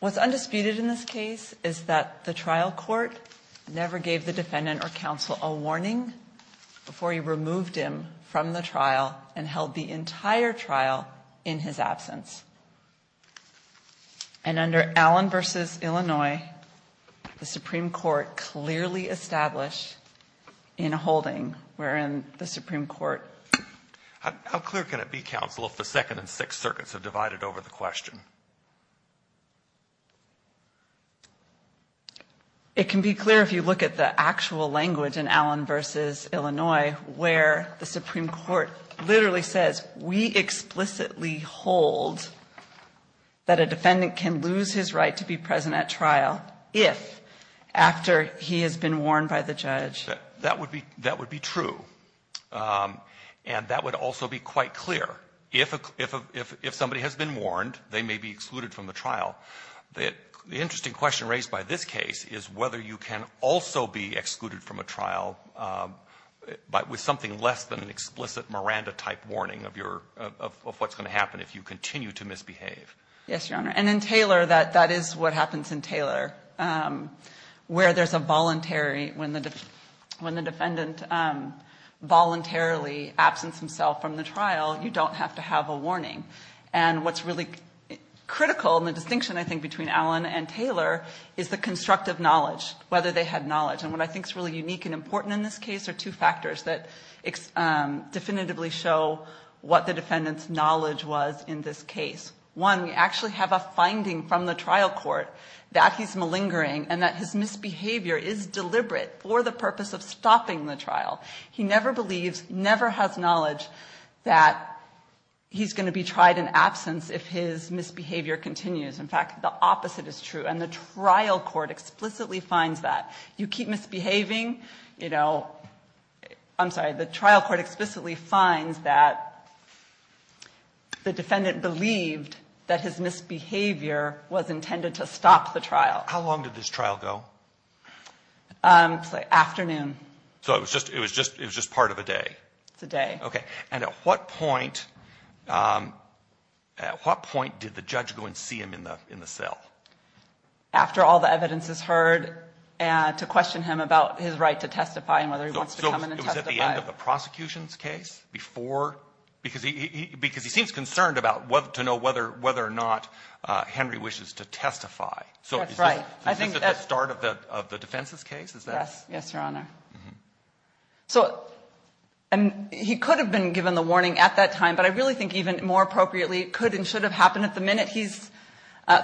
What's undisputed in this case is that the trial court never gave the defendant or counsel a warning before he removed him from the trial and held the entire trial in his absence. And under Allen v. Illinois, the Supreme Court clearly established in holding, wherein the Supreme Court How clear can it be, counsel, if the Second and Sixth Circuits have divided over the question? It can be clear if you look at the actual language in Allen v. Illinois, where the Supreme Court literally says, We explicitly hold that a defendant can lose his right to be present at trial if, after he has been warned by the judge. That would be true. And that would also be quite clear. If somebody has been warned, they may be excluded from the trial. The interesting question raised by this case is whether you can also be excluded from a trial with something less than an explicit Miranda-type warning of what's going to happen if you continue to misbehave. Yes, Your Honor. And in Taylor, that is what happens in Taylor, where there's a voluntary, when the defendant voluntarily absenced himself from the trial, you don't have to have a warning. And what's really critical in the distinction, I think, between Allen and Taylor is the constructive knowledge, whether they had knowledge. And what I think is really unique and important in this case are two factors that definitively show what the defendant's knowledge was in this case. One, we actually have a finding from the trial court that he's malingering and that his misbehavior is deliberate for the purpose of stopping the trial. He never believes, never has knowledge that he's going to be tried in absence if his misbehavior continues. In fact, the opposite is true. And the trial court explicitly finds that. You keep misbehaving, you know, I'm sorry, the trial court explicitly finds that the defendant believed that his misbehavior was intended to stop the trial. How long did this trial go? It's like afternoon. So it was just part of a day? It's a day. Okay. And at what point did the judge go and see him in the cell? After all the evidence is heard to question him about his right to testify and whether he wants to come in and testify. So it was at the end of the prosecution's case before? Because he seems concerned about whether to know whether or not Henry wishes to testify. That's right. So is this at the start of the defense's case? Yes, Your Honor. So he could have been given the warning at that time, but I really think even more appropriately it could and should have happened at the minute.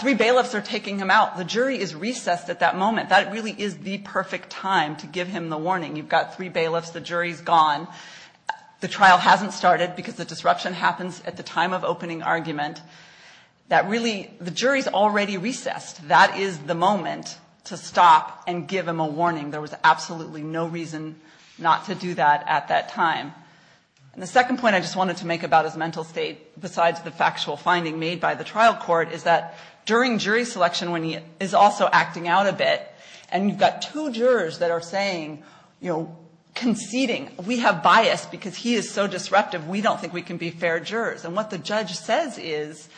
Three bailiffs are taking him out. The jury is recessed at that moment. That really is the perfect time to give him the warning. You've got three bailiffs. The jury is gone. The trial hasn't started because the disruption happens at the time of opening argument. The jury is already recessed. That is the moment to stop and give him a warning. There was absolutely no reason not to do that at that time. And the second point I just wanted to make about his mental state, besides the factual finding made by the trial court, is that during jury selection when he is also acting out a bit and you've got two jurors that are saying, you know, conceding. We have bias because he is so disruptive. We don't think we can be fair jurors. And what the judge says is,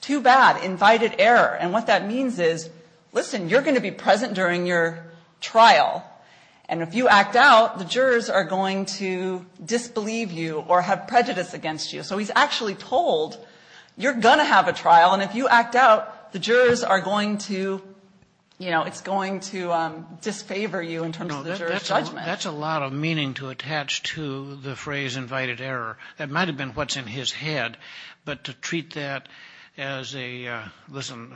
too bad, invited error. And what that means is, listen, you're going to be present during your trial. And if you act out, the jurors are going to disbelieve you or have prejudice against you. So he's actually told, you're going to have a trial. And if you act out, the jurors are going to, you know, it's going to disfavor you in terms of the juror's judgment. That's a lot of meaning to attach to the phrase invited error. That might have been what's in his head. But to treat that as a, listen,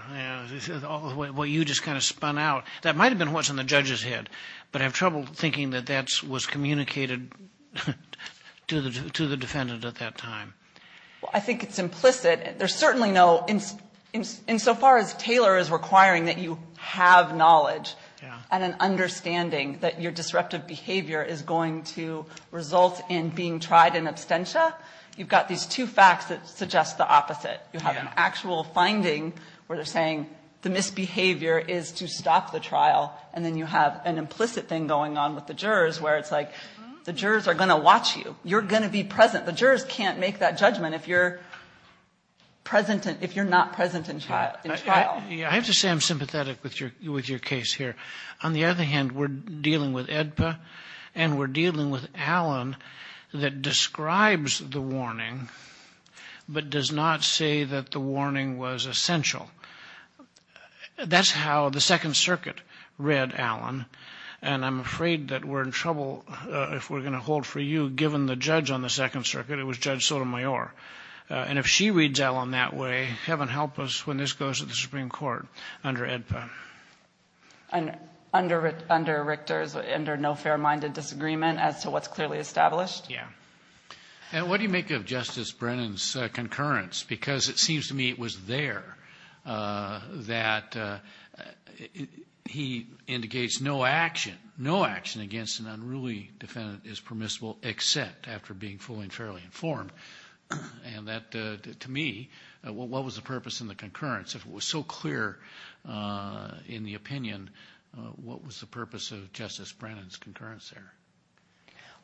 what you just kind of spun out, that might have been what's in the judge's head. But I have trouble thinking that that was communicated to the defendant at that time. Well, I think it's implicit. There's certainly no, insofar as Taylor is requiring that you have knowledge and an understanding that your disruptive behavior is going to result in being tried in absentia, you've got these two facts that suggest the opposite. You have an actual finding where they're saying the misbehavior is to stop the trial. And then you have an implicit thing going on with the jurors where it's like the jurors are going to watch you. You're going to be present. The jurors can't make that judgment if you're present, if you're not present in trial. I have to say I'm sympathetic with your case here. On the other hand, we're dealing with AEDPA and we're dealing with Allen that describes the warning but does not say that the warning was essential. That's how the Second Circuit read Allen. And I'm afraid that we're in trouble, if we're going to hold for you, given the judge on the Second Circuit. It was Judge Sotomayor. And if she reads Allen that way, heaven help us when this goes to the Supreme Court under AEDPA. Under Richter's, under no fair-minded disagreement as to what's clearly established? Yeah. And what do you make of Justice Brennan's concurrence? Because it seems to me it was there that he indicates no action, no action against an unruly defendant is permissible except after being fully and fairly informed. And that, to me, what was the purpose in the concurrence? If it was so clear in the opinion, what was the purpose of Justice Brennan's concurrence there?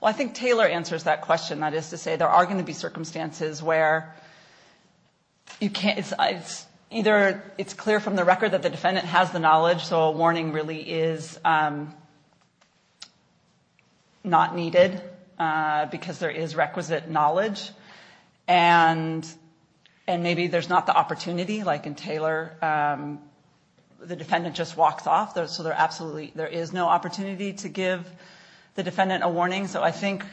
Well, I think Taylor answers that question. That is to say there are going to be circumstances where it's either it's clear from the record that the defendant has the knowledge, so a warning really is not needed because there is requisite knowledge. And maybe there's not the opportunity, like in Taylor, the defendant just walks off, so there is no opportunity to give the defendant a warning. So I think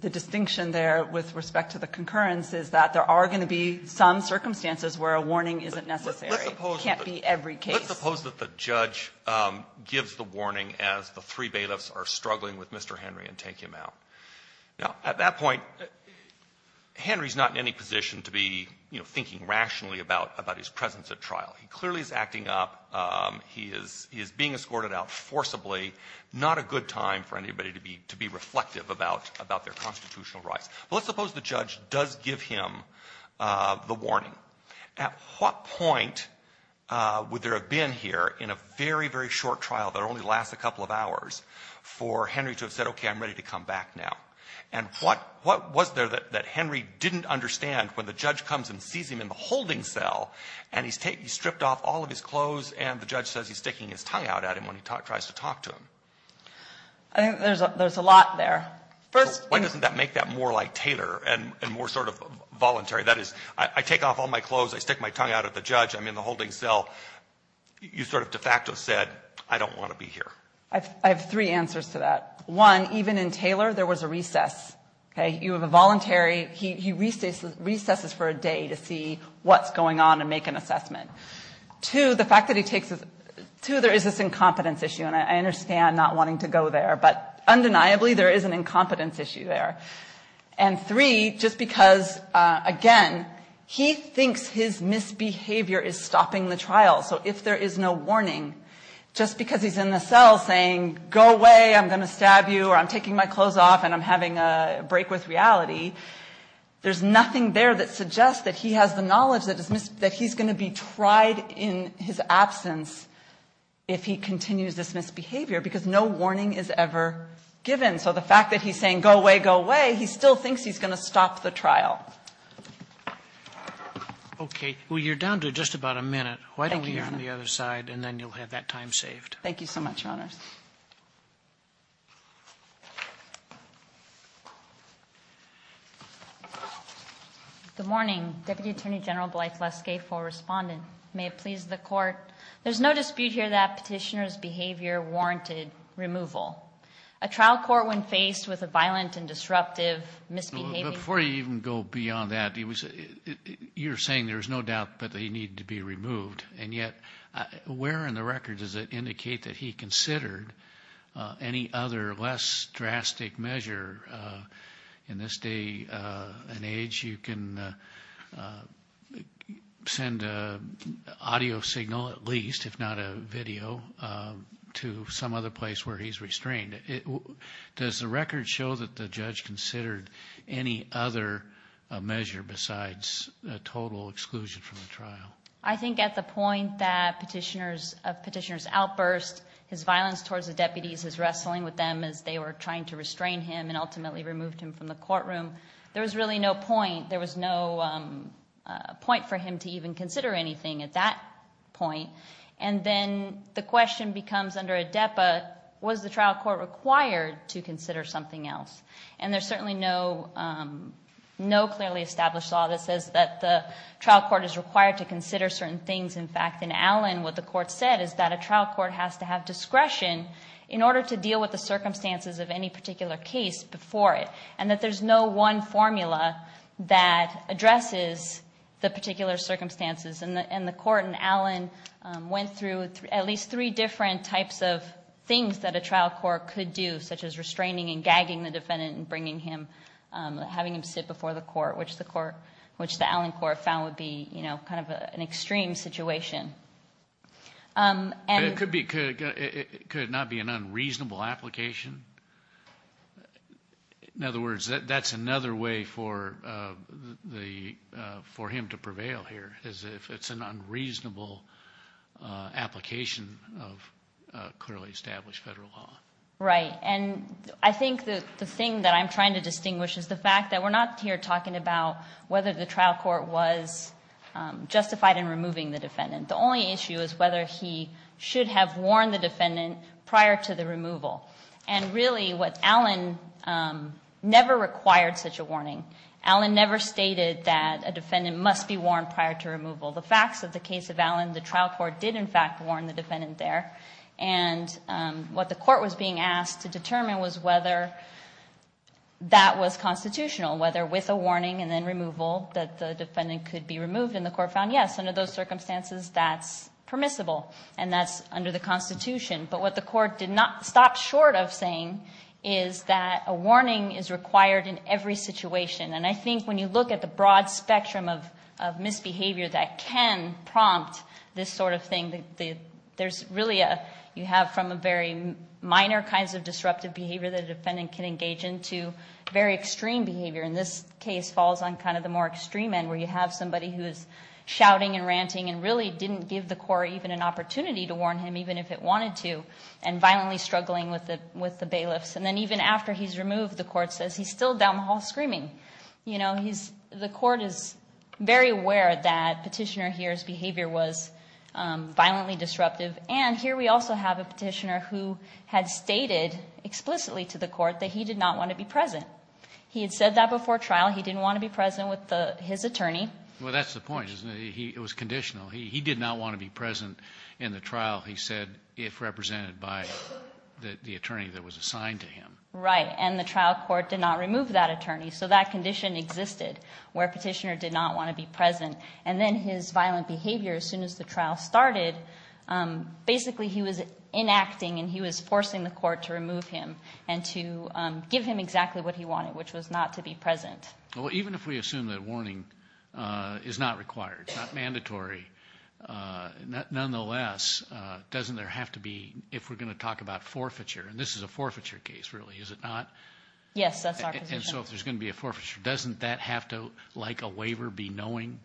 the distinction there with respect to the concurrence is that there are going to be some circumstances where a warning isn't necessary. It can't be every case. Let's suppose that the judge gives the warning as the three bailiffs are struggling with Mr. Henry and take him out. Now, at that point, Henry is not in any position to be, you know, thinking rationally about his presence at trial. He clearly is acting up. He is being escorted out forcibly. Not a good time for anybody to be reflective about their constitutional rights. But let's suppose the judge does give him the warning. At what point would there have been here in a very, very short trial that only lasts a couple of hours for Henry to have said, okay, I'm ready to come back now? And what was there that Henry didn't understand when the judge comes and sees him in the holding cell and he's stripped off all of his clothes and the judge says he's sticking his tongue out at him when he tries to talk to him? I think there's a lot there. First of all, why doesn't that make that more like Taylor and more sort of voluntary? That is, I take off all my clothes, I stick my tongue out at the judge, I'm in the holding cell. You sort of de facto said, I don't want to be here. I have three answers to that. One, even in Taylor there was a recess. Okay? You have a voluntary, he recesses for a day to see what's going on and make an assessment. Two, the fact that he takes his, two, there is this incompetence issue. And I understand not wanting to go there. But undeniably there is an incompetence issue there. And three, just because, again, he thinks his misbehavior is stopping the trial. So if there is no warning, just because he's in the cell saying, go away, I'm going to stab you, or I'm taking my clothes off and I'm having a break with reality, there's nothing there that suggests that he has the knowledge that he's going to be tried in his absence if he continues this misbehavior because no warning is ever given. So the fact that he's saying, go away, go away, he still thinks he's going to stop the trial. Okay. Well, you're down to just about a minute. Why don't we hear from the other side and then you'll have that time saved. Thank you so much, Your Honors. Good morning. Deputy Attorney General Blythe Leskay for Respondent. May it please the Court. There's no dispute here that petitioner's behavior warranted removal. A trial court when faced with a violent and disruptive misbehavior. Before you even go beyond that, you're saying there's no doubt that they need to be removed, and yet where in the record does it indicate that he considered any other less drastic measure in this day and age? Perhaps you can send an audio signal at least, if not a video, to some other place where he's restrained. Does the record show that the judge considered any other measure besides a total exclusion from the trial? I think at the point that petitioner's outburst, his violence towards the deputies, his wrestling with them as they were trying to restrain him and ultimately removed him from the courtroom, there was really no point for him to even consider anything at that point. And then the question becomes under a DEPA, was the trial court required to consider something else? And there's certainly no clearly established law that says that the trial court is required to consider certain things. In fact, in Allen, what the court said is that a trial court has to have discretion in order to deal with the circumstances of any particular case before it, and that there's no one formula that addresses the particular circumstances. And the court in Allen went through at least three different types of things that a trial court could do, such as restraining and gagging the defendant and having him sit before the court, which the Allen court found would be kind of an extreme situation. It could not be an unreasonable application. In other words, that's another way for him to prevail here, is if it's an unreasonable application of clearly established federal law. Right, and I think the thing that I'm trying to distinguish is the fact that we're not here talking about whether the trial court was justified in removing the defendant. The only issue is whether he should have warned the defendant prior to the removal. And really, Allen never required such a warning. Allen never stated that a defendant must be warned prior to removal. The facts of the case of Allen, the trial court did, in fact, warn the defendant there. And what the court was being asked to determine was whether that was constitutional, whether with a warning and then removal that the defendant could be removed. And the court found, yes, under those circumstances, that's permissible, and that's under the Constitution. But what the court did not stop short of saying is that a warning is required in every situation. And I think when you look at the broad spectrum of misbehavior that can prompt this sort of thing, there's really a, you have from a very minor kinds of disruptive behavior that a defendant can engage in to very extreme behavior. And this case falls on kind of the more extreme end where you have somebody who is shouting and ranting and really didn't give the court even an opportunity to warn him, even if it wanted to, and violently struggling with the bailiffs. And then even after he's removed, the court says he's still down the hall screaming. You know, the court is very aware that Petitioner here's behavior was violently disruptive. And here we also have a petitioner who had stated explicitly to the court that he did not want to be present. He had said that before trial. He didn't want to be present with his attorney. Well, that's the point, isn't it? It was conditional. He did not want to be present in the trial, he said, if represented by the attorney that was assigned to him. Right. And the trial court did not remove that attorney. So that condition existed where Petitioner did not want to be present. And then his violent behavior, as soon as the trial started, basically he was enacting and he was forcing the court to remove him and to give him exactly what he wanted, which was not to be present. Well, even if we assume that warning is not required, it's not mandatory, nonetheless, doesn't there have to be, if we're going to talk about forfeiture, and this is a forfeiture case, really, is it not? Yes, that's our position. So if there's going to be a forfeiture, doesn't that have to, like a waiver, be knowing?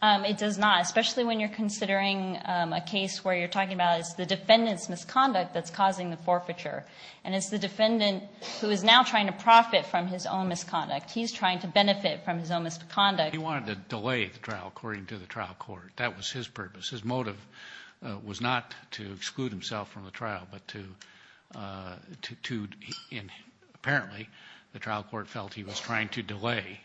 It does not, especially when you're considering a case where you're talking about it's the defendant's misconduct that's causing the forfeiture. And it's the defendant who is now trying to profit from his own misconduct. He's trying to benefit from his own misconduct. He wanted to delay the trial, according to the trial court. That was his purpose. His motive was not to exclude himself from the trial, but to, apparently, the trial court felt he was trying to delay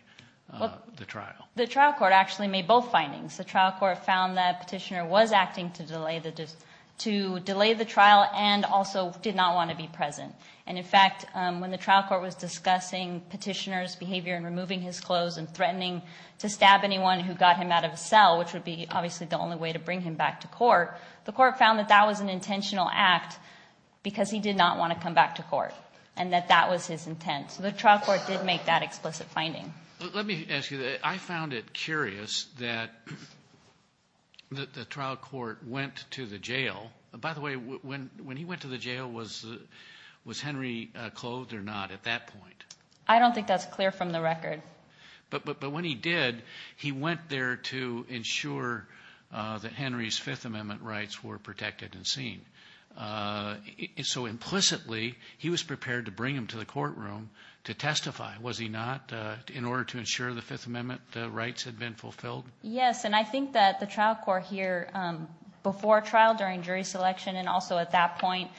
the trial. The trial court actually made both findings. The trial court found that Petitioner was acting to delay the trial and also did not want to be present. And, in fact, when the trial court was discussing Petitioner's behavior in removing his clothes and threatening to stab anyone who got him out of a cell, which would be, obviously, the only way to bring him back to court, the court found that that was an intentional act because he did not want to come back to court and that that was his intent. So the trial court did make that explicit finding. Let me ask you this. I found it curious that the trial court went to the jail. By the way, when he went to the jail, was Henry clothed or not at that point? I don't think that's clear from the record. But when he did, he went there to ensure that Henry's Fifth Amendment rights were protected and seen. So, implicitly, he was prepared to bring him to the courtroom to testify, was he not, in order to ensure the Fifth Amendment rights had been fulfilled? Yes, and I think that the trial court here, before trial, during jury selection, and also at that point,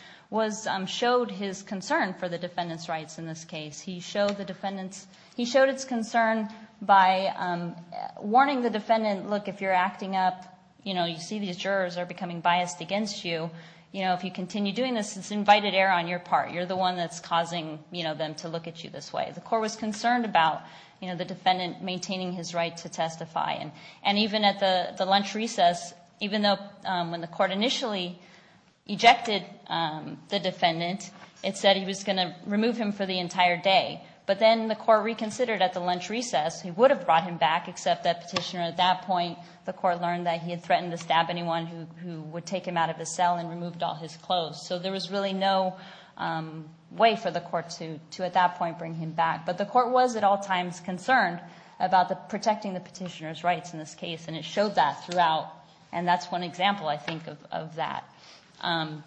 showed his concern for the defendant's rights in this case. He showed his concern by warning the defendant, look, if you're acting up, you see these jurors are becoming biased against you. If you continue doing this, it's invited error on your part. You're the one that's causing them to look at you this way. The court was concerned about the defendant maintaining his right to testify. And even at the lunch recess, even though when the court initially ejected the defendant, it said he was going to remove him for the entire day. But then the court reconsidered at the lunch recess. He would have brought him back, except that petitioner at that point, the court learned that he had threatened to stab anyone who would take him out of his cell and removed all his clothes. So there was really no way for the court to, at that point, bring him back. But the court was at all times concerned about protecting the petitioner's rights in this case, and it showed that throughout. And that's one example, I think, of that.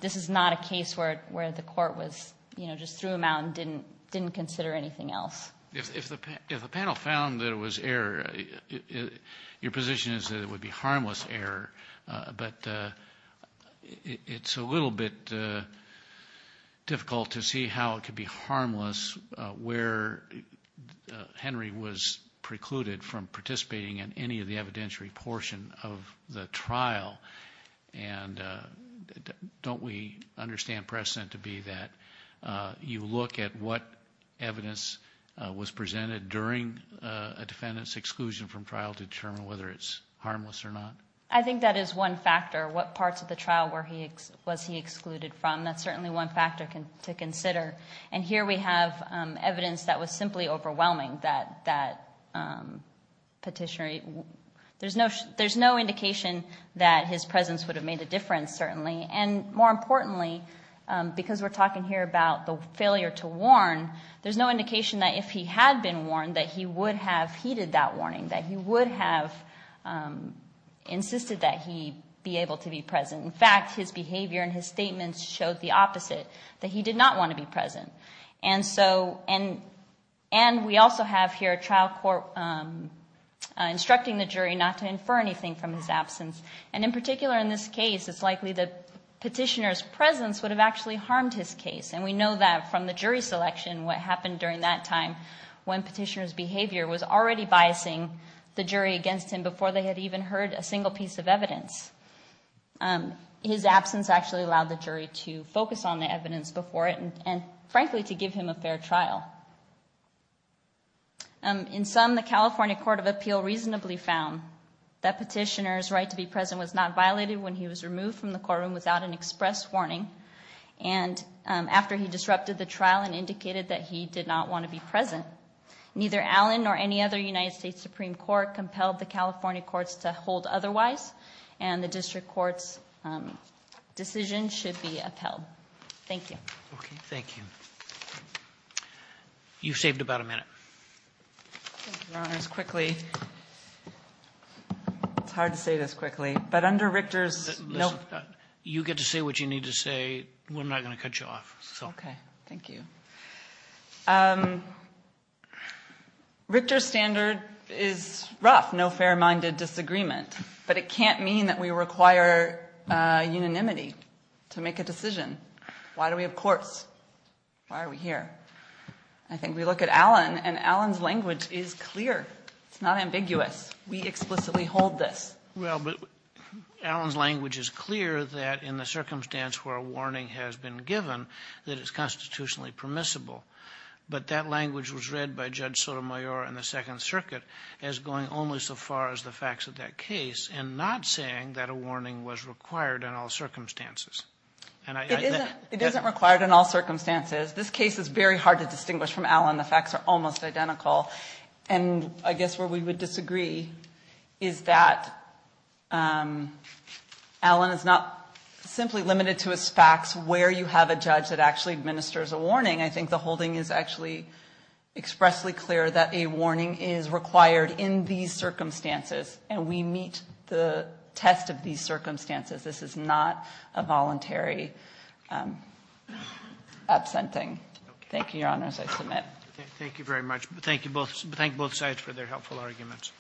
This is not a case where the court was, you know, just threw him out and didn't consider anything else. If the panel found that it was error, your position is that it would be harmless error. But it's a little bit difficult to see how it could be harmless where Henry was precluded from participating in any of the evidentiary portion of the trial. And don't we understand precedent to be that you look at what evidence was presented during a defendant's exclusion from trial to determine whether it's harmless or not? I think that is one factor, what parts of the trial was he excluded from. That's certainly one factor to consider. And here we have evidence that was simply overwhelming, that petitioner, there's no indication that his presence would have made a difference, certainly. And more importantly, because we're talking here about the failure to warn, there's no indication that if he had been warned that he would have heeded that warning, that he would have insisted that he be able to be present. In fact, his behavior and his statements showed the opposite, that he did not want to be present. And we also have here a trial court instructing the jury not to infer anything from his absence. And in particular in this case, it's likely the petitioner's presence would have actually harmed his case. And we know that from the jury selection, what happened during that time when petitioner's behavior was already biasing the jury against him before they had even heard a single piece of evidence. His absence actually allowed the jury to focus on the evidence before it and frankly to give him a fair trial. In sum, the California Court of Appeal reasonably found that petitioner's right to be present was not violated when he was removed from the courtroom without an express warning. And after he disrupted the trial and indicated that he did not want to be present, neither Allen nor any other United States Supreme Court compelled the California courts to hold otherwise. And the district court's decision should be upheld. Thank you. Okay, thank you. You've saved about a minute. Thank you, Your Honors. Quickly, it's hard to say this quickly, but under Richter's- You get to say what you need to say. We're not going to cut you off. Okay, thank you. Richter's standard is rough, no fair-minded disagreement. But it can't mean that we require unanimity to make a decision. Why do we have courts? Why are we here? I think we look at Allen, and Allen's language is clear. It's not ambiguous. We explicitly hold this. Well, but Allen's language is clear that in the circumstance where a warning has been given, that it's constitutionally permissible. But that language was read by Judge Sotomayor in the Second Circuit as going only so far as the facts of that case and not saying that a warning was required in all circumstances. It isn't required in all circumstances. This case is very hard to distinguish from Allen. The facts are almost identical. And I guess where we would disagree is that Allen is not simply limited to his facts where you have a judge that actually administers a warning. I think the holding is actually expressly clear that a warning is required in these circumstances, and we meet the test of these circumstances. This is not a voluntary absenting. Thank you, Your Honors. I submit. Thank you very much. Thank both sides for their helpful arguments.